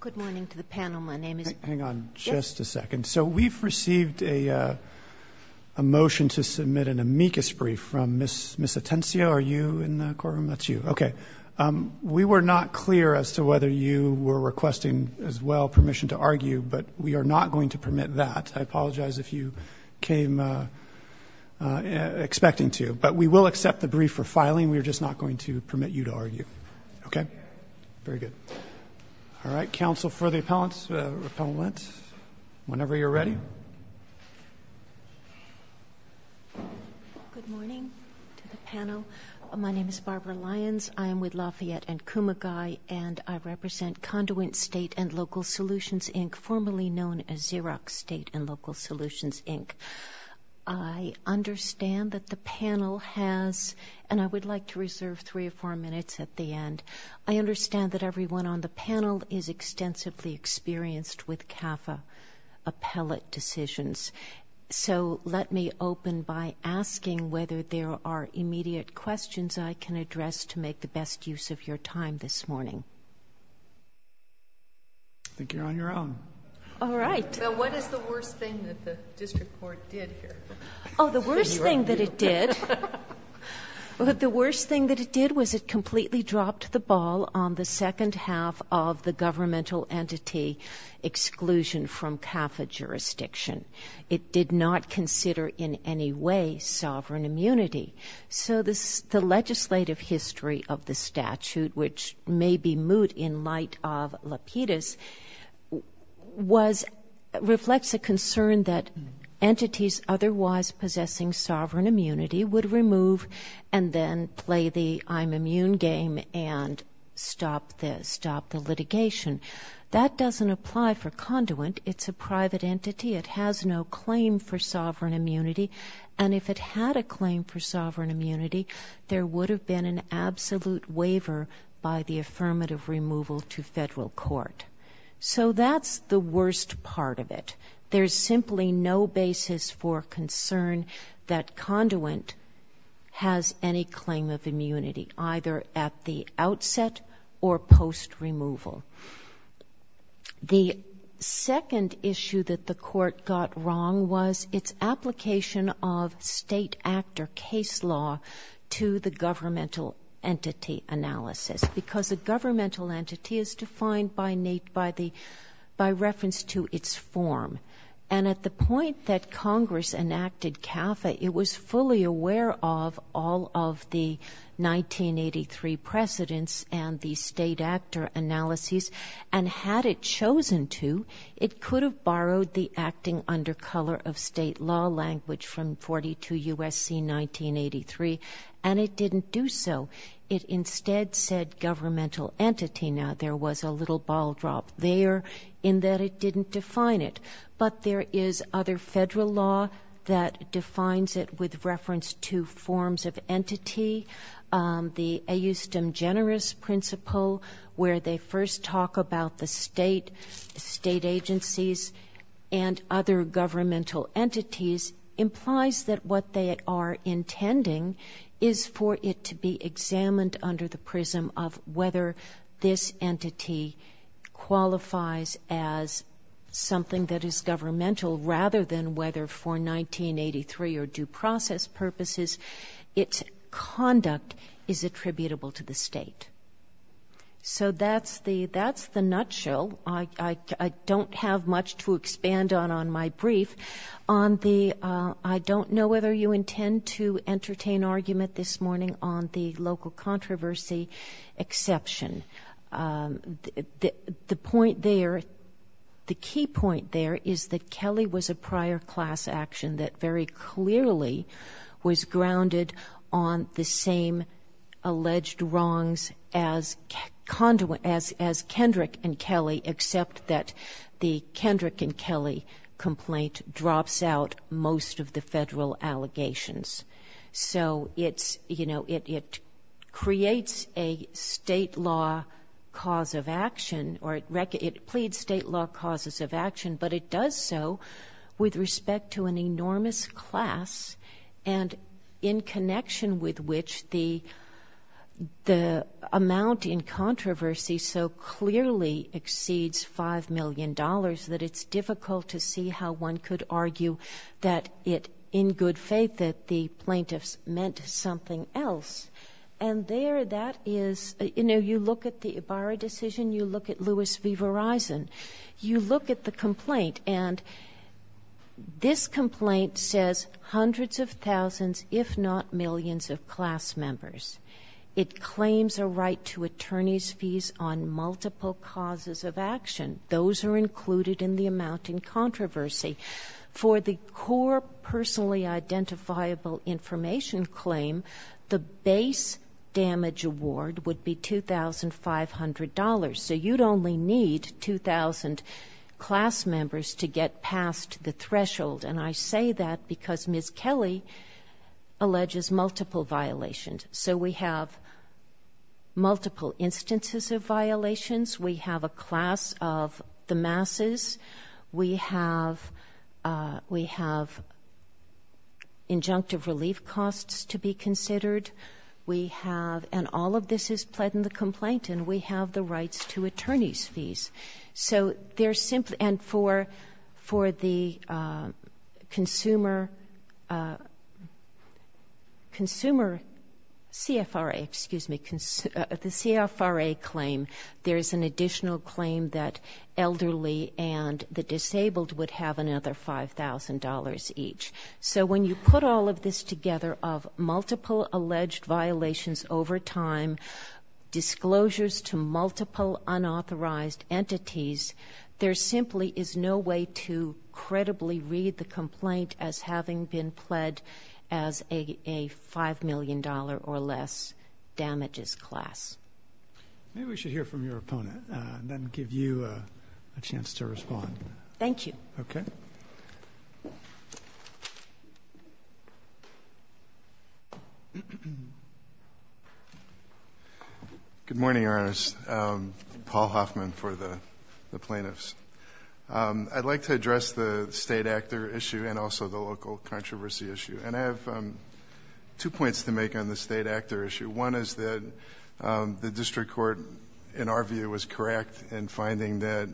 Good morning to the panel. My name is... Hang on just a second. So we've received a motion to submit an amicus brief from Ms. Miss Atencio. Are you in the courtroom? That's you. Okay. We were not clear as to whether you were requesting as well permission to argue, but we are not going to permit that. I apologize if you came expecting to, but we will accept the brief for filing. We're just not going to permit that. All right. Counsel for the appellants, repellent, whenever you're ready. Good morning to the panel. My name is Barbara Lyons. I am with Lafayette and Kumagai, and I represent Conduent State and Local Solutions, Inc., formerly known as Xerox State and Local Solutions, Inc. I understand that the panel has, and I would like to reserve three or four minutes at the end, I understand that everyone on the panel is extensively experienced with CAFA appellate decisions. So let me open by asking whether there are immediate questions I can address to make the best use of your time this morning. I think you're on your own. All right. What is the worst thing that the district court did here? Oh, the worst thing that it did? The worst thing that it did was it completely dropped the ball on the second half of the governmental entity exclusion from CAFA jurisdiction. It did not consider in any way sovereign immunity. So the legislative history of the statute, which may be moot in light of Lapidus, reflects a concern that entities otherwise possessing sovereign immunity would remove and then play the I'm immune game and stop this, stop the litigation. That doesn't apply for Conduent. It's a private entity. It has no claim for sovereign immunity, and if it had a claim for sovereign immunity, there would have been an absolute waiver by the affirmative removal to federal court. So that's the worst part of it. There's simply no basis for concern that Conduent has any claim of immunity, either at the outset or post-removal. The second issue that the court got wrong was its application of state act or case law to the governmental entity analysis, because the governmental entity is defined by reference to its form. And at the point that Congress enacted CAFA, it was fully aware of all of the 1983 precedents and the state act or analyses, and had it chosen to, it could have borrowed the acting under color of state law language from 42 U.S.C. 1983, and it didn't do so. It instead said governmental entity. Now, there was a little ball drop there in that it that defines it with reference to forms of entity. The a eustem generous principle, where they first talk about the state, state agencies, and other governmental entities, implies that what they are intending is for it to be examined under the prism of whether this entity qualifies as something that is due process purposes, its conduct is attributable to the state. So that's the nutshell. I don't have much to expand on on my brief. I don't know whether you intend to entertain argument this morning on the local controversy exception. The point there, the key point there is that Kelly was a very clearly was grounded on the same alleged wrongs as conduit as as Kendrick and Kelly, except that the Kendrick and Kelly complaint drops out most of the federal allegations. So it's, you know, it creates a state law cause of action, or it records, it pleads state law causes of action, but it does so with respect to an enormous class and in connection with which the the amount in controversy so clearly exceeds five million dollars that it's difficult to see how one could argue that it, in good faith, that the plaintiffs meant something else. And there that is, you know, you look at the Ibarra decision, you look at the complaint, and this complaint says hundreds of thousands, if not millions, of class members. It claims a right to attorneys fees on multiple causes of action. Those are included in the amount in controversy. For the core personally identifiable information claim, the base damage award would be $2,500. So you'd only need 2,000 class members to get past the threshold. And I say that because Ms. Kelly alleges multiple violations. So we have multiple instances of violations. We have a class of the masses. We have, we have injunctive relief costs to be considered. We have, and all of this is pled in the complaint, and we have the rights to attorneys fees. So they're simply, and for the consumer, consumer CFRA, excuse me, the CFRA claim, there is an additional claim that elderly and the disabled would have another $5,000 each. So when you put all of this together of multiple alleged violations over time, disclosures to multiple unauthorized entities, there simply is no way to credibly read the complaint as having been pled as a $5 million or less damages class. Maybe we should hear from your opponent and then give you a chance to respond. Thank you. Okay. Good morning, Your Honor. Paul Hoffman for the plaintiffs. I'd like to address the state actor issue and also the local controversy issue. And I have two points to make on the state actor issue. One is that the district court, in our view, was correct in finding that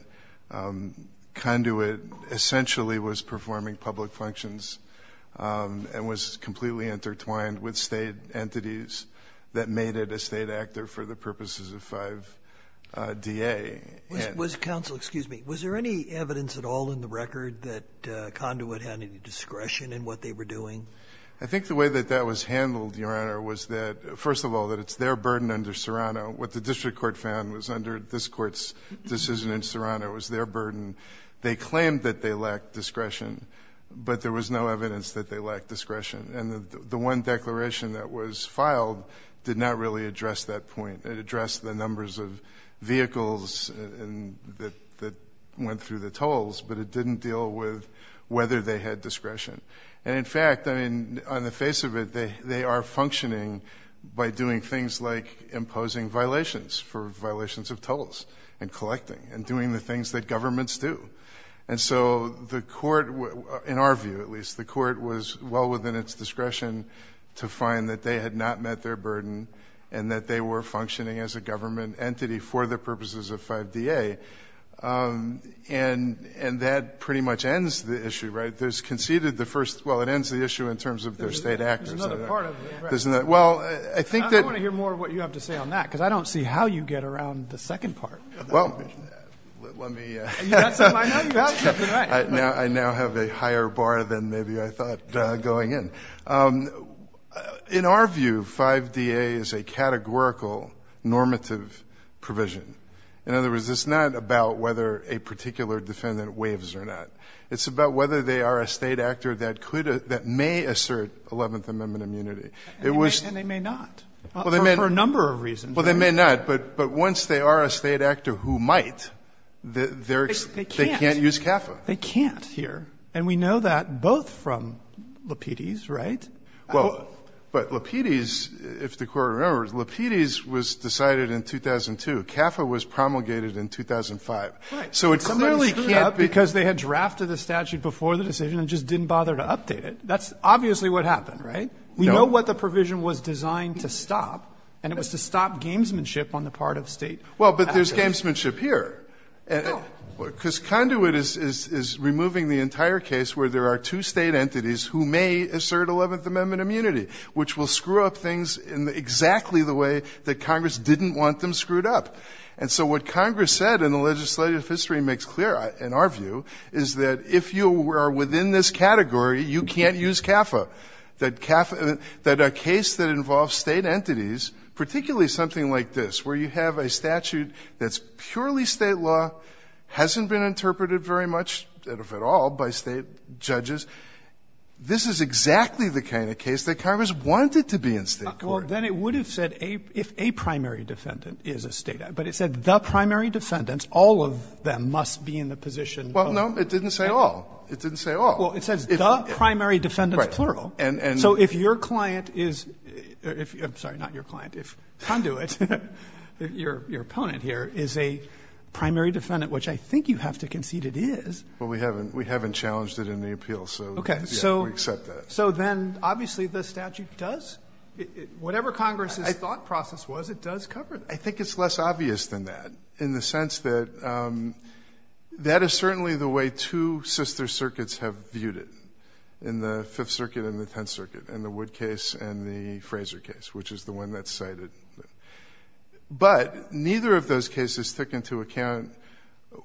Conduit essentially was performing public functions and was completely intertwined with state entities that made it a state actor for the purposes of 5DA. Was, counsel, excuse me, was there any evidence at all in the record that Conduit had any discretion in what they were doing? I think the way that that was handled, Your Honor, was that, first of all, that it's their burden under Serrano. What the district court found was under this court's decision in Serrano was their burden. They claimed that they lacked discretion, but there was no evidence that they lacked discretion. And the one declaration that was filed did not really address that point. It addressed the numbers of vehicles that went through the tolls, but it didn't deal with whether they had discretion. And in fact, I mean, on the face of it, they are functioning by doing things like imposing violations for violations of tolls and collecting and doing the things that governments do. And so the court, in our view, at least, the court was well within its discretion to find that they had not met their burden and that they were functioning as a government entity for the purposes of 5DA. And that pretty much ends the issue, right? There's conceded the first, well, it ends the issue in terms of their state actors. There's another part of it, right? Well, I think that... I want to hear more of what you have to say on that, because I don't see how you get around the second part of that provision. Well, let me... I know you have something, right? I now have a higher bar than maybe I thought going in. In our view, 5DA is a categorical normative provision. In other words, it's not about whether a particular defendant waives or not. It's about whether they are a state actor that could, that may assert 11th Amendment immunity. And they may not, for a number of reasons. Well, they may not. But once they are a state actor who might, they can't use CAFA. They can't here. And we know that both from Lapides, right? Well, but Lapides, if the court remembers, Lapides was decided in 2002. CAFA was promulgated in 2005. So it clearly can't because they had drafted the statute before the decision and just didn't bother to update it. That's obviously what happened, right? We know what the provision was designed to stop, and it was to stop gamesmanship on the part of state actors. Well, but there's gamesmanship here. No. Because Conduit is removing the entire case where there are two state entities who may assert 11th Amendment immunity, which will screw up things in exactly the way that Congress didn't want them screwed up. And so what Congress said in the legislative history makes clear, in our view, is that if you are within this category, you can't use CAFA. That a case that involves state entities, particularly something like this, where you have a statute that's purely state law, hasn't been interpreted very much, if at all, by state judges, this is exactly the kind of case that Congress wanted to be in state court. Well, then it would have said if a primary defendant is a state act, but it said the primary defendants, all of them, must be in the position of the state court. Well, no, it didn't say all. It didn't say all. Well, it says the primary defendants, plural. So if your client is, I'm sorry, not your client, if Conduit, your opponent here, is a primary defendant, which I think you have to concede it is. Well, we haven't challenged it in the appeal, so we accept that. So then, obviously, the statute does, whatever Congress's thought process was, it does cover that. I think it's less obvious than that, in the sense that that is certainly the way two sister circuits have viewed it, in the Fifth Circuit and the Tenth Circuit, in the Wood case and the Fraser case, which is the one that's cited. But neither of those cases took into account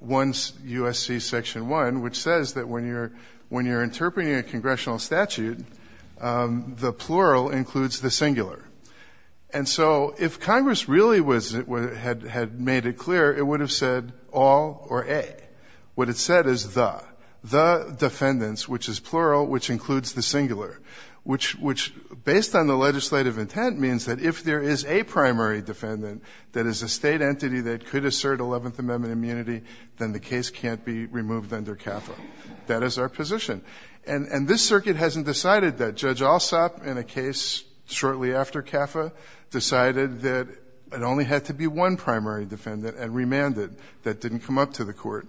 1 U.S.C. Section 1, which says that when you're interpreting a congressional statute, the plural includes the singular. And so if Congress really had made it clear, it would have said all or a. What it said is the. The defendants, which is plural, which includes the singular, which, based on the legislative intent, means that if there is a primary defendant that is a state entity that could assert Eleventh Amendment immunity, then the case can't be removed under CAFA. That is our position. And this circuit hasn't decided that. Judge Alsop, in a case shortly after CAFA, decided that it only had to be one primary defendant and remanded. That didn't come up to the court.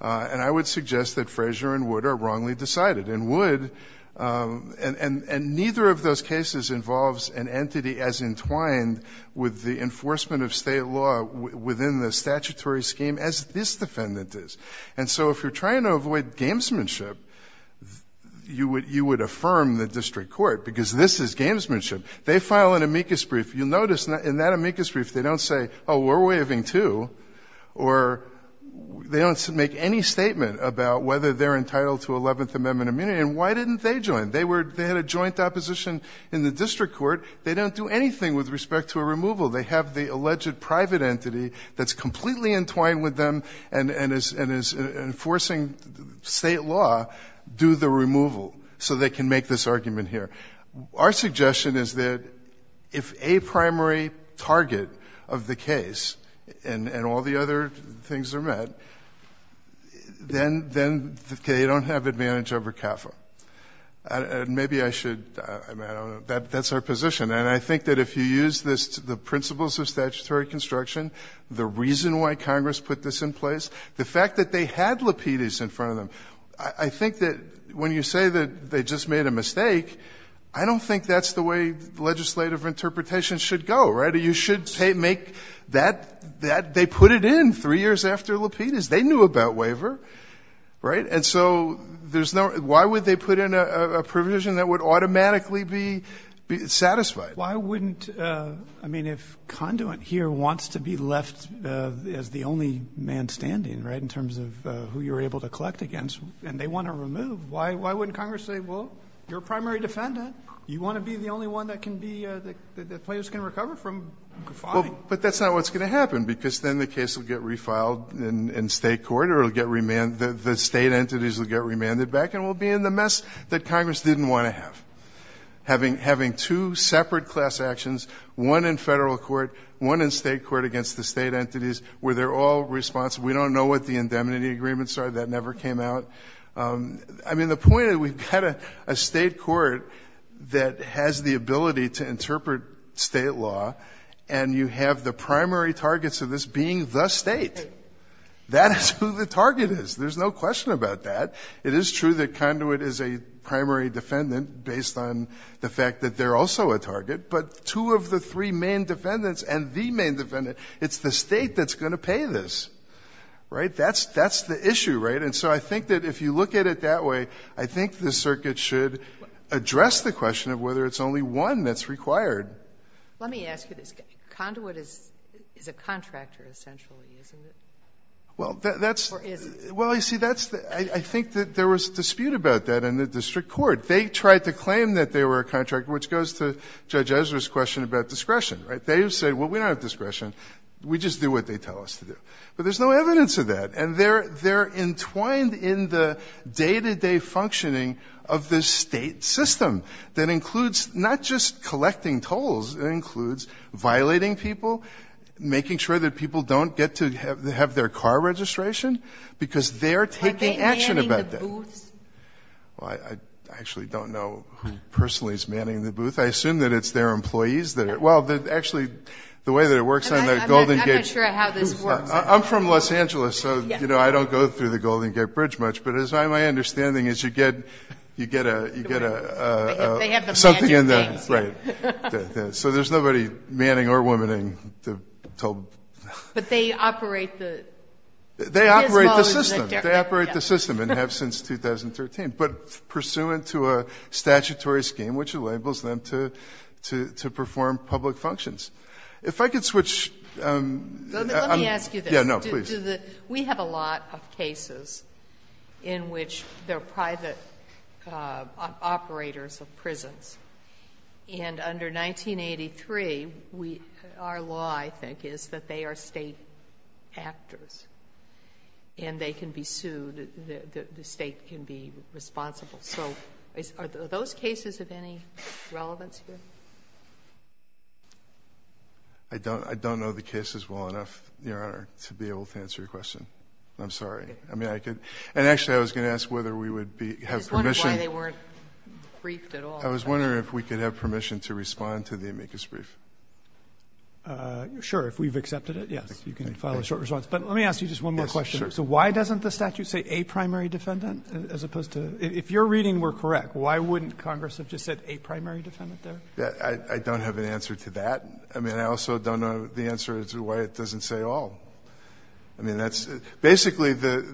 And I would suggest that Fraser and Wood are wrongly decided. And Wood, and neither of those cases involves an entity as entwined with the enforcement of state law within the statutory scheme as this defendant is. And so if you're trying to avoid gamesmanship, you would affirm the district court, because this is gamesmanship. They file an amicus brief. You'll notice in that amicus brief they don't say, oh, we're waiving too, or they don't make any statement about whether they're entitled to Eleventh Amendment immunity. And why didn't they join? They were they had a joint opposition in the district court. They don't do anything with respect to a removal. They have the alleged private entity that's completely entwined with them and is enforcing state law do the removal so they can make this argument here. Our suggestion is that if a primary target of the case and all the other things are met, then they don't have advantage over CAFA. And maybe I should, I don't know. That's our position. And I think that if you use this, the principles of statutory construction, the reason why Congress put this in place, the fact that they had Lapidus in front of them. I think that when you say that they just made a mistake, I don't think that's the way legislative interpretation should go, right? You should make that they put it in three years after Lapidus. They knew about waiver, right? And so there's no, why would they put in a provision that would automatically be satisfied? Why wouldn't, I mean, if conduit here wants to be left as the only man standing, right? In terms of who you're able to collect against and they want to remove. Why wouldn't Congress say, well, you're a primary defendant. You want to be the only one that can be, that players can recover from filing? But that's not what's going to happen because then the case will get refiled in state court or it'll get remanded. The state entities will get remanded back and we'll be in the mess that Congress didn't want to have. Having two separate class actions, one in federal court, one in state court against the state entities, where they're all responsible. We don't know what the indemnity agreements are. That never came out. I mean, the point is we've got a state court that has the ability to interpret state law. And you have the primary targets of this being the state. That is who the target is. There's no question about that. It is true that conduit is a primary defendant based on the fact that they're also a target. But two of the three main defendants and the main defendant, it's the state that's going to pay this. Right? That's the issue, right? And so I think that if you look at it that way, I think the circuit should address the question of whether it's only one that's required. Let me ask you this. Conduit is a contractor essentially, isn't it? Well, that's. Or is it? Well, you see, I think that there was dispute about that in the district court. They tried to claim that they were a contractor, which goes to Judge Ezra's question about discretion. Right? They said, well, we don't have discretion. We just do what they tell us to do. But there's no evidence of that. And they're entwined in the day-to-day functioning of the state system that includes not just collecting tolls. It includes violating people, making sure that people don't get to have their car registration because they're taking action about that. Are they manning the booths? Well, I actually don't know who personally is manning the booth. I assume that it's their employees that are. Well, actually, the way that it works on the Golden Gate. I'm not sure how this works. I'm from Los Angeles, so, you know, I don't go through the Golden Gate Bridge much. But my understanding is you get something in the. Right. So there's nobody manning or womanning the toll booth. But they operate the. They operate the system. They operate the system and have since 2013. But pursuant to a statutory scheme, which enables them to perform public functions. If I could switch. Let me ask you this. No, please. We have a lot of cases in which they're private operators of prisons. And under 1983, our law, I think, is that they are State actors. And they can be sued. The State can be responsible. So are those cases of any relevance here? I don't know the cases well enough, Your Honor, to be able to answer your question. I'm sorry. I mean, I could. And actually, I was going to ask whether we would have permission. I was wondering why they weren't briefed at all. I was wondering if we could have permission to respond to the amicus brief. Sure. If we've accepted it, yes. You can file a short response. But let me ask you just one more question. So why doesn't the statute say a primary defendant as opposed to. If your reading were correct, why wouldn't Congress have just said a primary defendant I don't have an answer to that. I mean, I also don't know the answer to why it doesn't say all. I mean, that's. Basically, the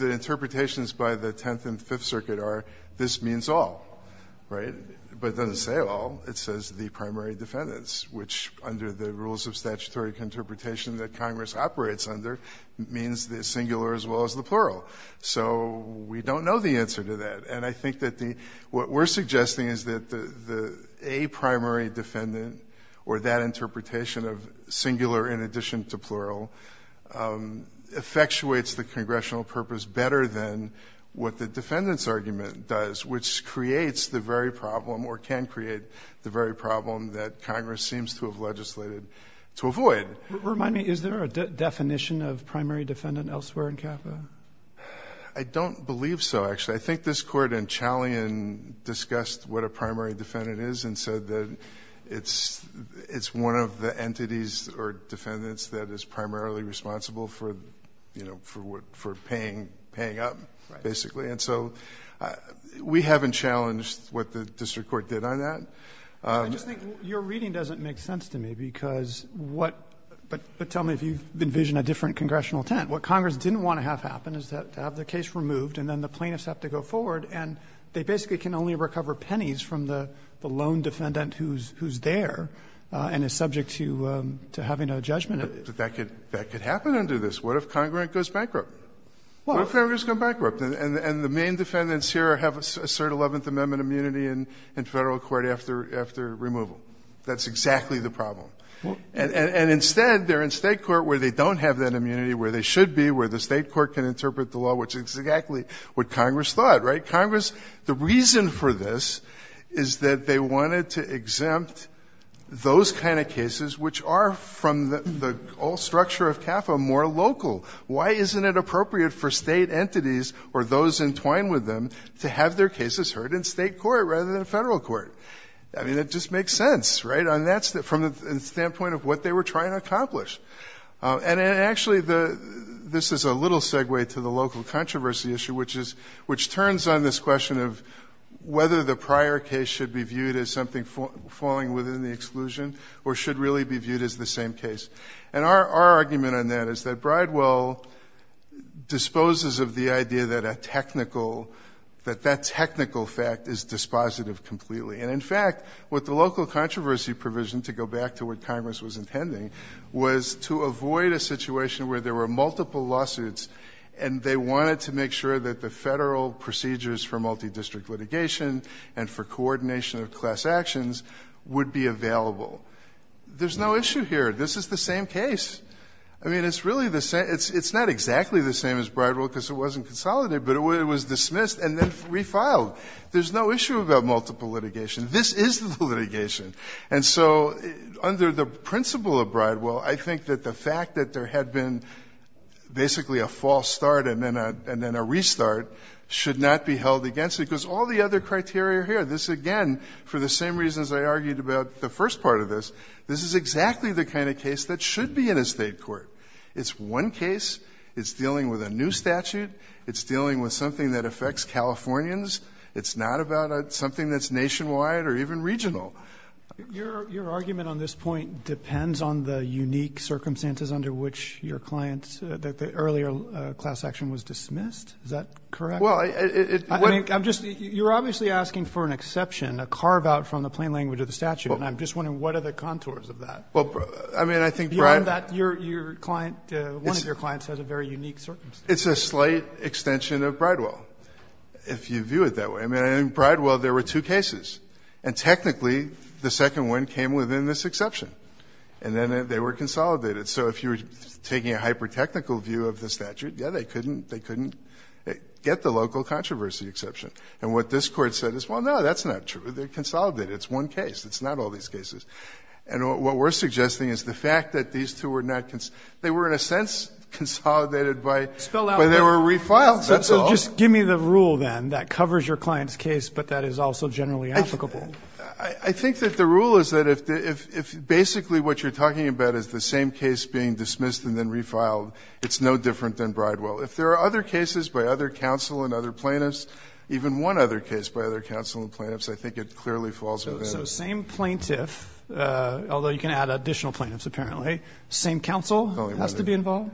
interpretations by the Tenth and Fifth Circuit are this means all, right? But it doesn't say all. It says the primary defendants, which, under the rules of statutory interpretation that Congress operates under, means the singular as well as the plural. So we don't know the answer to that. And I think that what we're suggesting is that a primary defendant, or that interpretation of singular in addition to plural, effectuates the congressional purpose better than what the defendant's argument does, which creates the very problem, or can create the very problem that Congress seems to have legislated to avoid. Remind me, is there a definition of primary defendant elsewhere in CAFA? I don't believe so, actually. I think this Court in Challien discussed what a primary defendant is and said that it's one of the entities or defendants that is primarily responsible for, you know, for paying up, basically. And so we haven't challenged what the district court did on that. I just think your reading doesn't make sense to me, because what — but tell me if you've envisioned a different congressional intent. What Congress didn't want to have happen is to have the case removed and then the plaintiffs have to go forward, and they basically can only recover pennies from the lone defendant who's there and is subject to having a judgment. But that could happen under this. What if Congrant goes bankrupt? What if Congrant goes bankrupt and the main defendants here have a cert 11th Amendment immunity in Federal court after removal? That's exactly the problem. And instead, they're in State court where they don't have that immunity, where they should be, where the State court can interpret the law, which is exactly what Congress thought, right? Congress — the reason for this is that they wanted to exempt those kind of cases which are from the old structure of CAFA more local. Why isn't it appropriate for State entities or those entwined with them to have their cases heard in State court rather than Federal court? I mean, it just makes sense, right? On that — from the standpoint of what they were trying to accomplish. And actually, this is a little segue to the local controversy issue, which is — which turns on this question of whether the prior case should be viewed as something falling within the exclusion or should really be viewed as the same case. And our argument on that is that Bridewell disposes of the idea that a technical — that that technical fact is dispositive completely. And in fact, with the local controversy provision, to go back to what Congress was intending, was to avoid a situation where there were multiple lawsuits and they wanted to make sure that the Federal procedures for multidistrict litigation and for coordination of class actions would be available. There's no issue here. This is the same case. I mean, it's really the same — it's not exactly the same as Bridewell because it wasn't consolidated, but it was dismissed and then refiled. There's no issue about multiple litigation. This is the litigation. And so under the principle of Bridewell, I think that the fact that there had been basically a false start and then a restart should not be held against it because all the other criteria are here. This, again, for the same reasons I argued about the first part of this, this is exactly the kind of case that should be in a State court. It's one case. It's dealing with a new statute. It's dealing with something that affects Californians. It's not about something that's nationwide or even regional. Roberts. Your argument on this point depends on the unique circumstances under which your client's — the earlier class action was dismissed. Is that correct? Well, it — I mean, I'm just — you're obviously asking for an exception, a carve-out from the plain language of the statute, and I'm just wondering what are the contours of that? Well, I mean, I think — Given that your client — one of your clients has a very unique circumstance. It's a slight extension of Bridewell, if you view it that way. I mean, in Bridewell, there were two cases. And technically, the second one came within this exception. And then they were consolidated. So if you were taking a hyper-technical view of the statute, yeah, they couldn't — they couldn't get the local controversy exception. And what this Court said is, well, no, that's not true. They're consolidated. It's one case. It's not all these cases. And what we're suggesting is the fact that these two were not — they were in a sense consolidated by — Spelled out. But they were refiled. That's all. So just give me the rule, then, that covers your client's case, but that is also generally applicable. I think that the rule is that if basically what you're talking about is the same case being dismissed and then refiled, it's no different than Bridewell. If there are other cases by other counsel and other plaintiffs, even one other case by other counsel and plaintiffs, I think it clearly falls within. Same counsel has to be involved?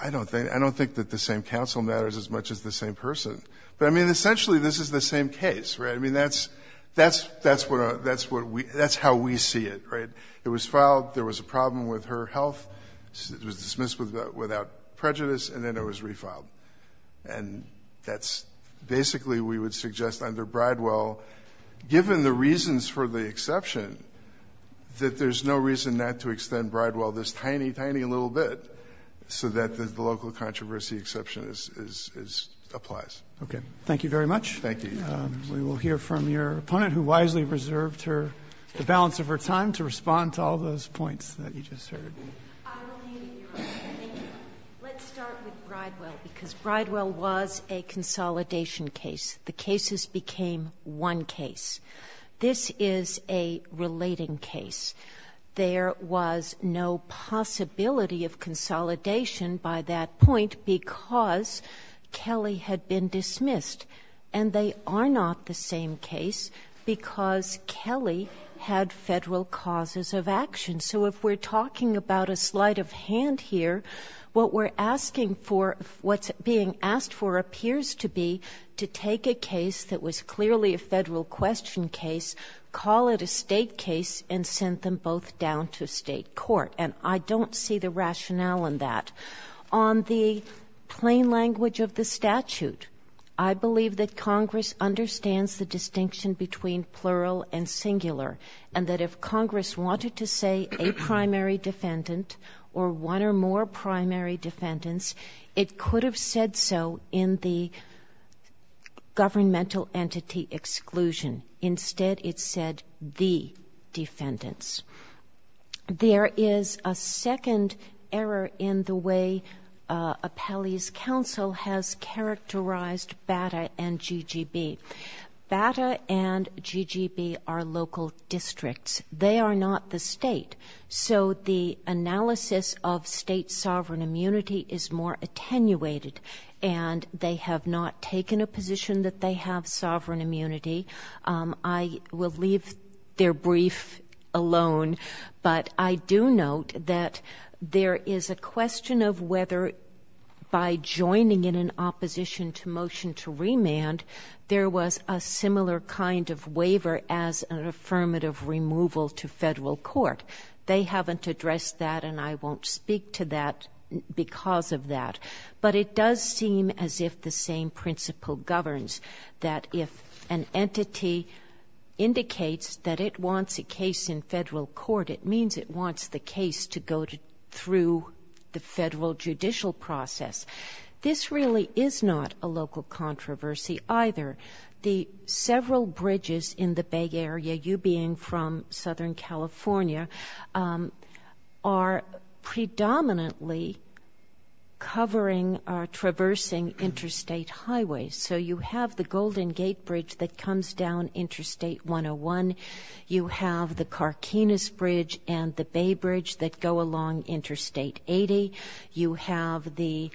I don't think — I don't think that the same counsel matters as much as the same person. But, I mean, essentially this is the same case, right? I mean, that's — that's what — that's what we — that's how we see it, right? It was filed. There was a problem with her health. It was dismissed without prejudice, and then it was refiled. And that's — basically we would suggest under Bridewell, given the reasons for the exception, that there's no reason not to extend Bridewell this tiny, tiny little bit so that the local controversy exception is — applies. Okay. Thank you very much. Thank you. We will hear from your opponent, who wisely reserved her — the balance of her time to respond to all those points that you just heard. I will leave it to you, Your Honor. Thank you. Let's start with Bridewell, because Bridewell was a consolidation case. The cases became one case. This is a relating case. There was no possibility of consolidation by that point because Kelly had been dismissed. And they are not the same case because Kelly had Federal causes of action. So if we're talking about a sleight of hand here, what we're asking for — what's being asked for appears to be to take a case that was clearly a Federal question case, call it a State case, and send them both down to State court. And I don't see the rationale in that. On the plain language of the statute, I believe that Congress understands the distinction between plural and singular, and that if Congress wanted to say a primary defendant or one or more primary defendants, it could have said so in the governmental entity exclusion. Instead, it said the defendants. There is a second error in the way Appellee's counsel has characterized BATA and GGB. BATA and GGB are local districts. They are not the State. So the analysis of State sovereign immunity is more attenuated, and they have not taken a position that they have sovereign immunity. I will leave their brief alone, but I do note that there is a question of whether by joining in an opposition to motion to remand, there was a similar kind of waiver as an affirmative removal to Federal court. They haven't addressed that, and I won't speak to that because of that. But it does seem as if the same principle governs, that if an entity indicates that it wants a case in Federal court, it means it wants the case to go through the Federal judicial process. This really is not a local controversy either. The several bridges in the Bay Area, you being from Southern California, are predominantly covering or traversing interstate highways. So you have the Golden Gate Bridge that comes down Interstate 101. You have the Carkinus Bridge and the Bay Bridge that go along Interstate 80. You have the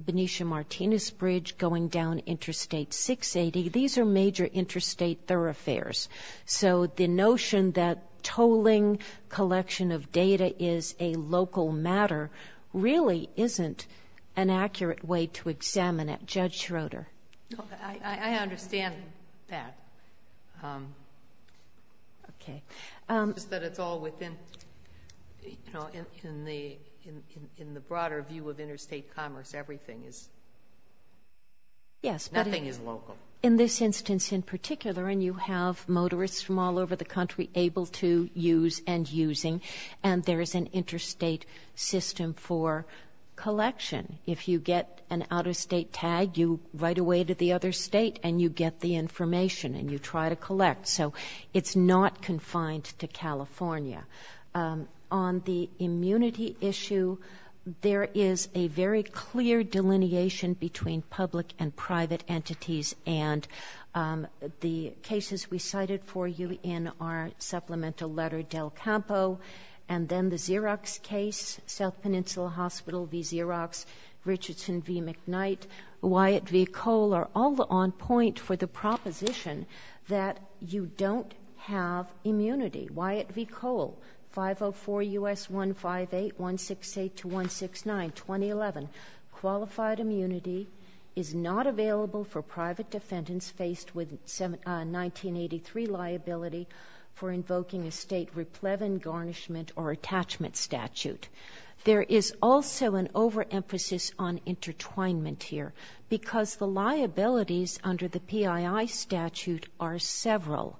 Benicia Martinez Bridge going down Interstate 680. These are major interstate thoroughfares. So the notion that tolling collection of data is a local matter really isn't an accurate way to examine it. Judge Schroeder. I understand that. Okay. It's just that it's all within, you know, in the broader view of interstate commerce, everything is, nothing is local. In this instance in particular, and you have motorists from all over the country able to use and using, and there is an interstate system for collection. If you get an out-of-state tag, you write away to the other state and you get the information and you try to collect. So it's not confined to California. On the immunity issue, there is a very clear delineation between public and private entities. And the cases we cited for you in our supplemental letter, Del Campo, and then the Xerox case, South Peninsula Hospital v. Xerox, Richardson v. McKnight, Wyatt v. Kohl are all on point for the proposition that you don't have immunity. Wyatt v. Kohl, 504 U.S. 158, 168 to 169, 2011. Qualified immunity is not available for private defendants faced with 1983 liability for invoking a state replevin garnishment or attachment statute. There is also an overemphasis on intertwinement here, because the liabilities under the PII statute are several.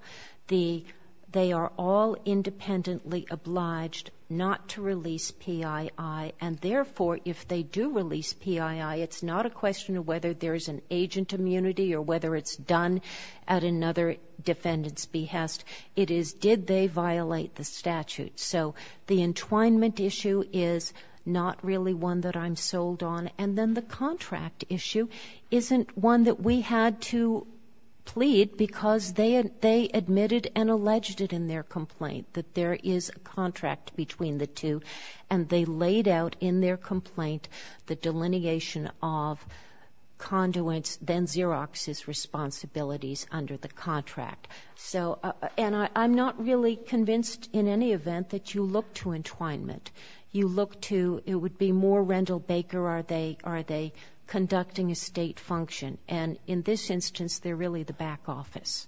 They are all independently obliged not to release PII, and therefore if they do release PII, it's not a question of whether there's an agent immunity or whether it's done at another defendant's behest. It is did they violate the statute. So the entwinement issue is not really one that I'm sold on. And then the contract issue isn't one that we had to plead, because they admitted and alleged it in their complaint that there is a contract between the two, and they laid out in their complaint the delineation of conduits, then Xerox's responsibilities under the contract. So, and I'm not really convinced in any event that you look to entwinement. You look to, it would be more Rendell Baker, are they conducting a state function? And in this instance, they're really the back office.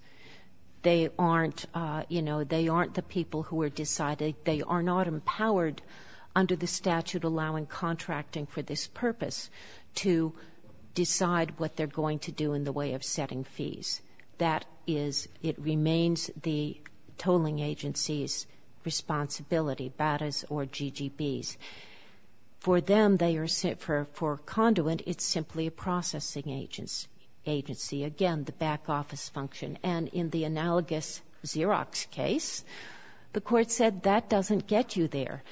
They aren't the people who are deciding, they are not empowered under the statute allowing contracting for this purpose to decide what they're going to do in the way of setting fees. That is, it remains the tolling agency's responsibility, BATAs or GGBs. For them, they are, for a conduit, it's simply a processing agency, again, the back office function. And in the analogous Xerox case, the court said that doesn't get you there.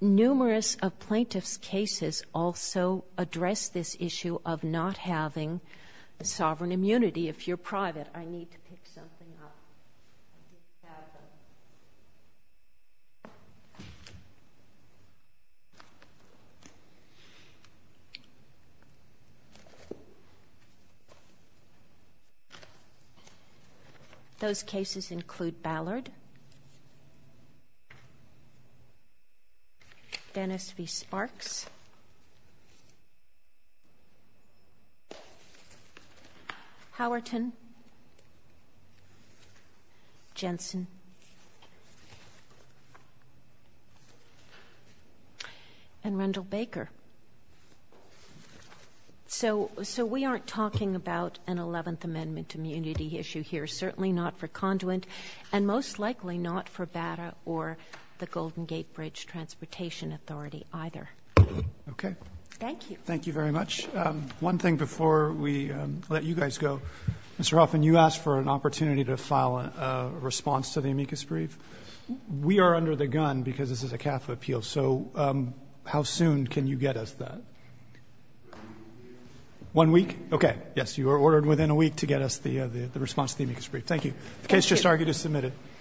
Numerous plaintiff's cases also address this issue of not having the sovereign immunity. If you're private, I need to pick something up. Those cases include Ballard, Dennis v. Sparks, Howerton, Jensen, and Rendell Baker. So we aren't talking about an 11th Amendment immunity issue here, certainly not for conduit, and most likely not for BATA or the Golden Gate Bridge transportation authority either.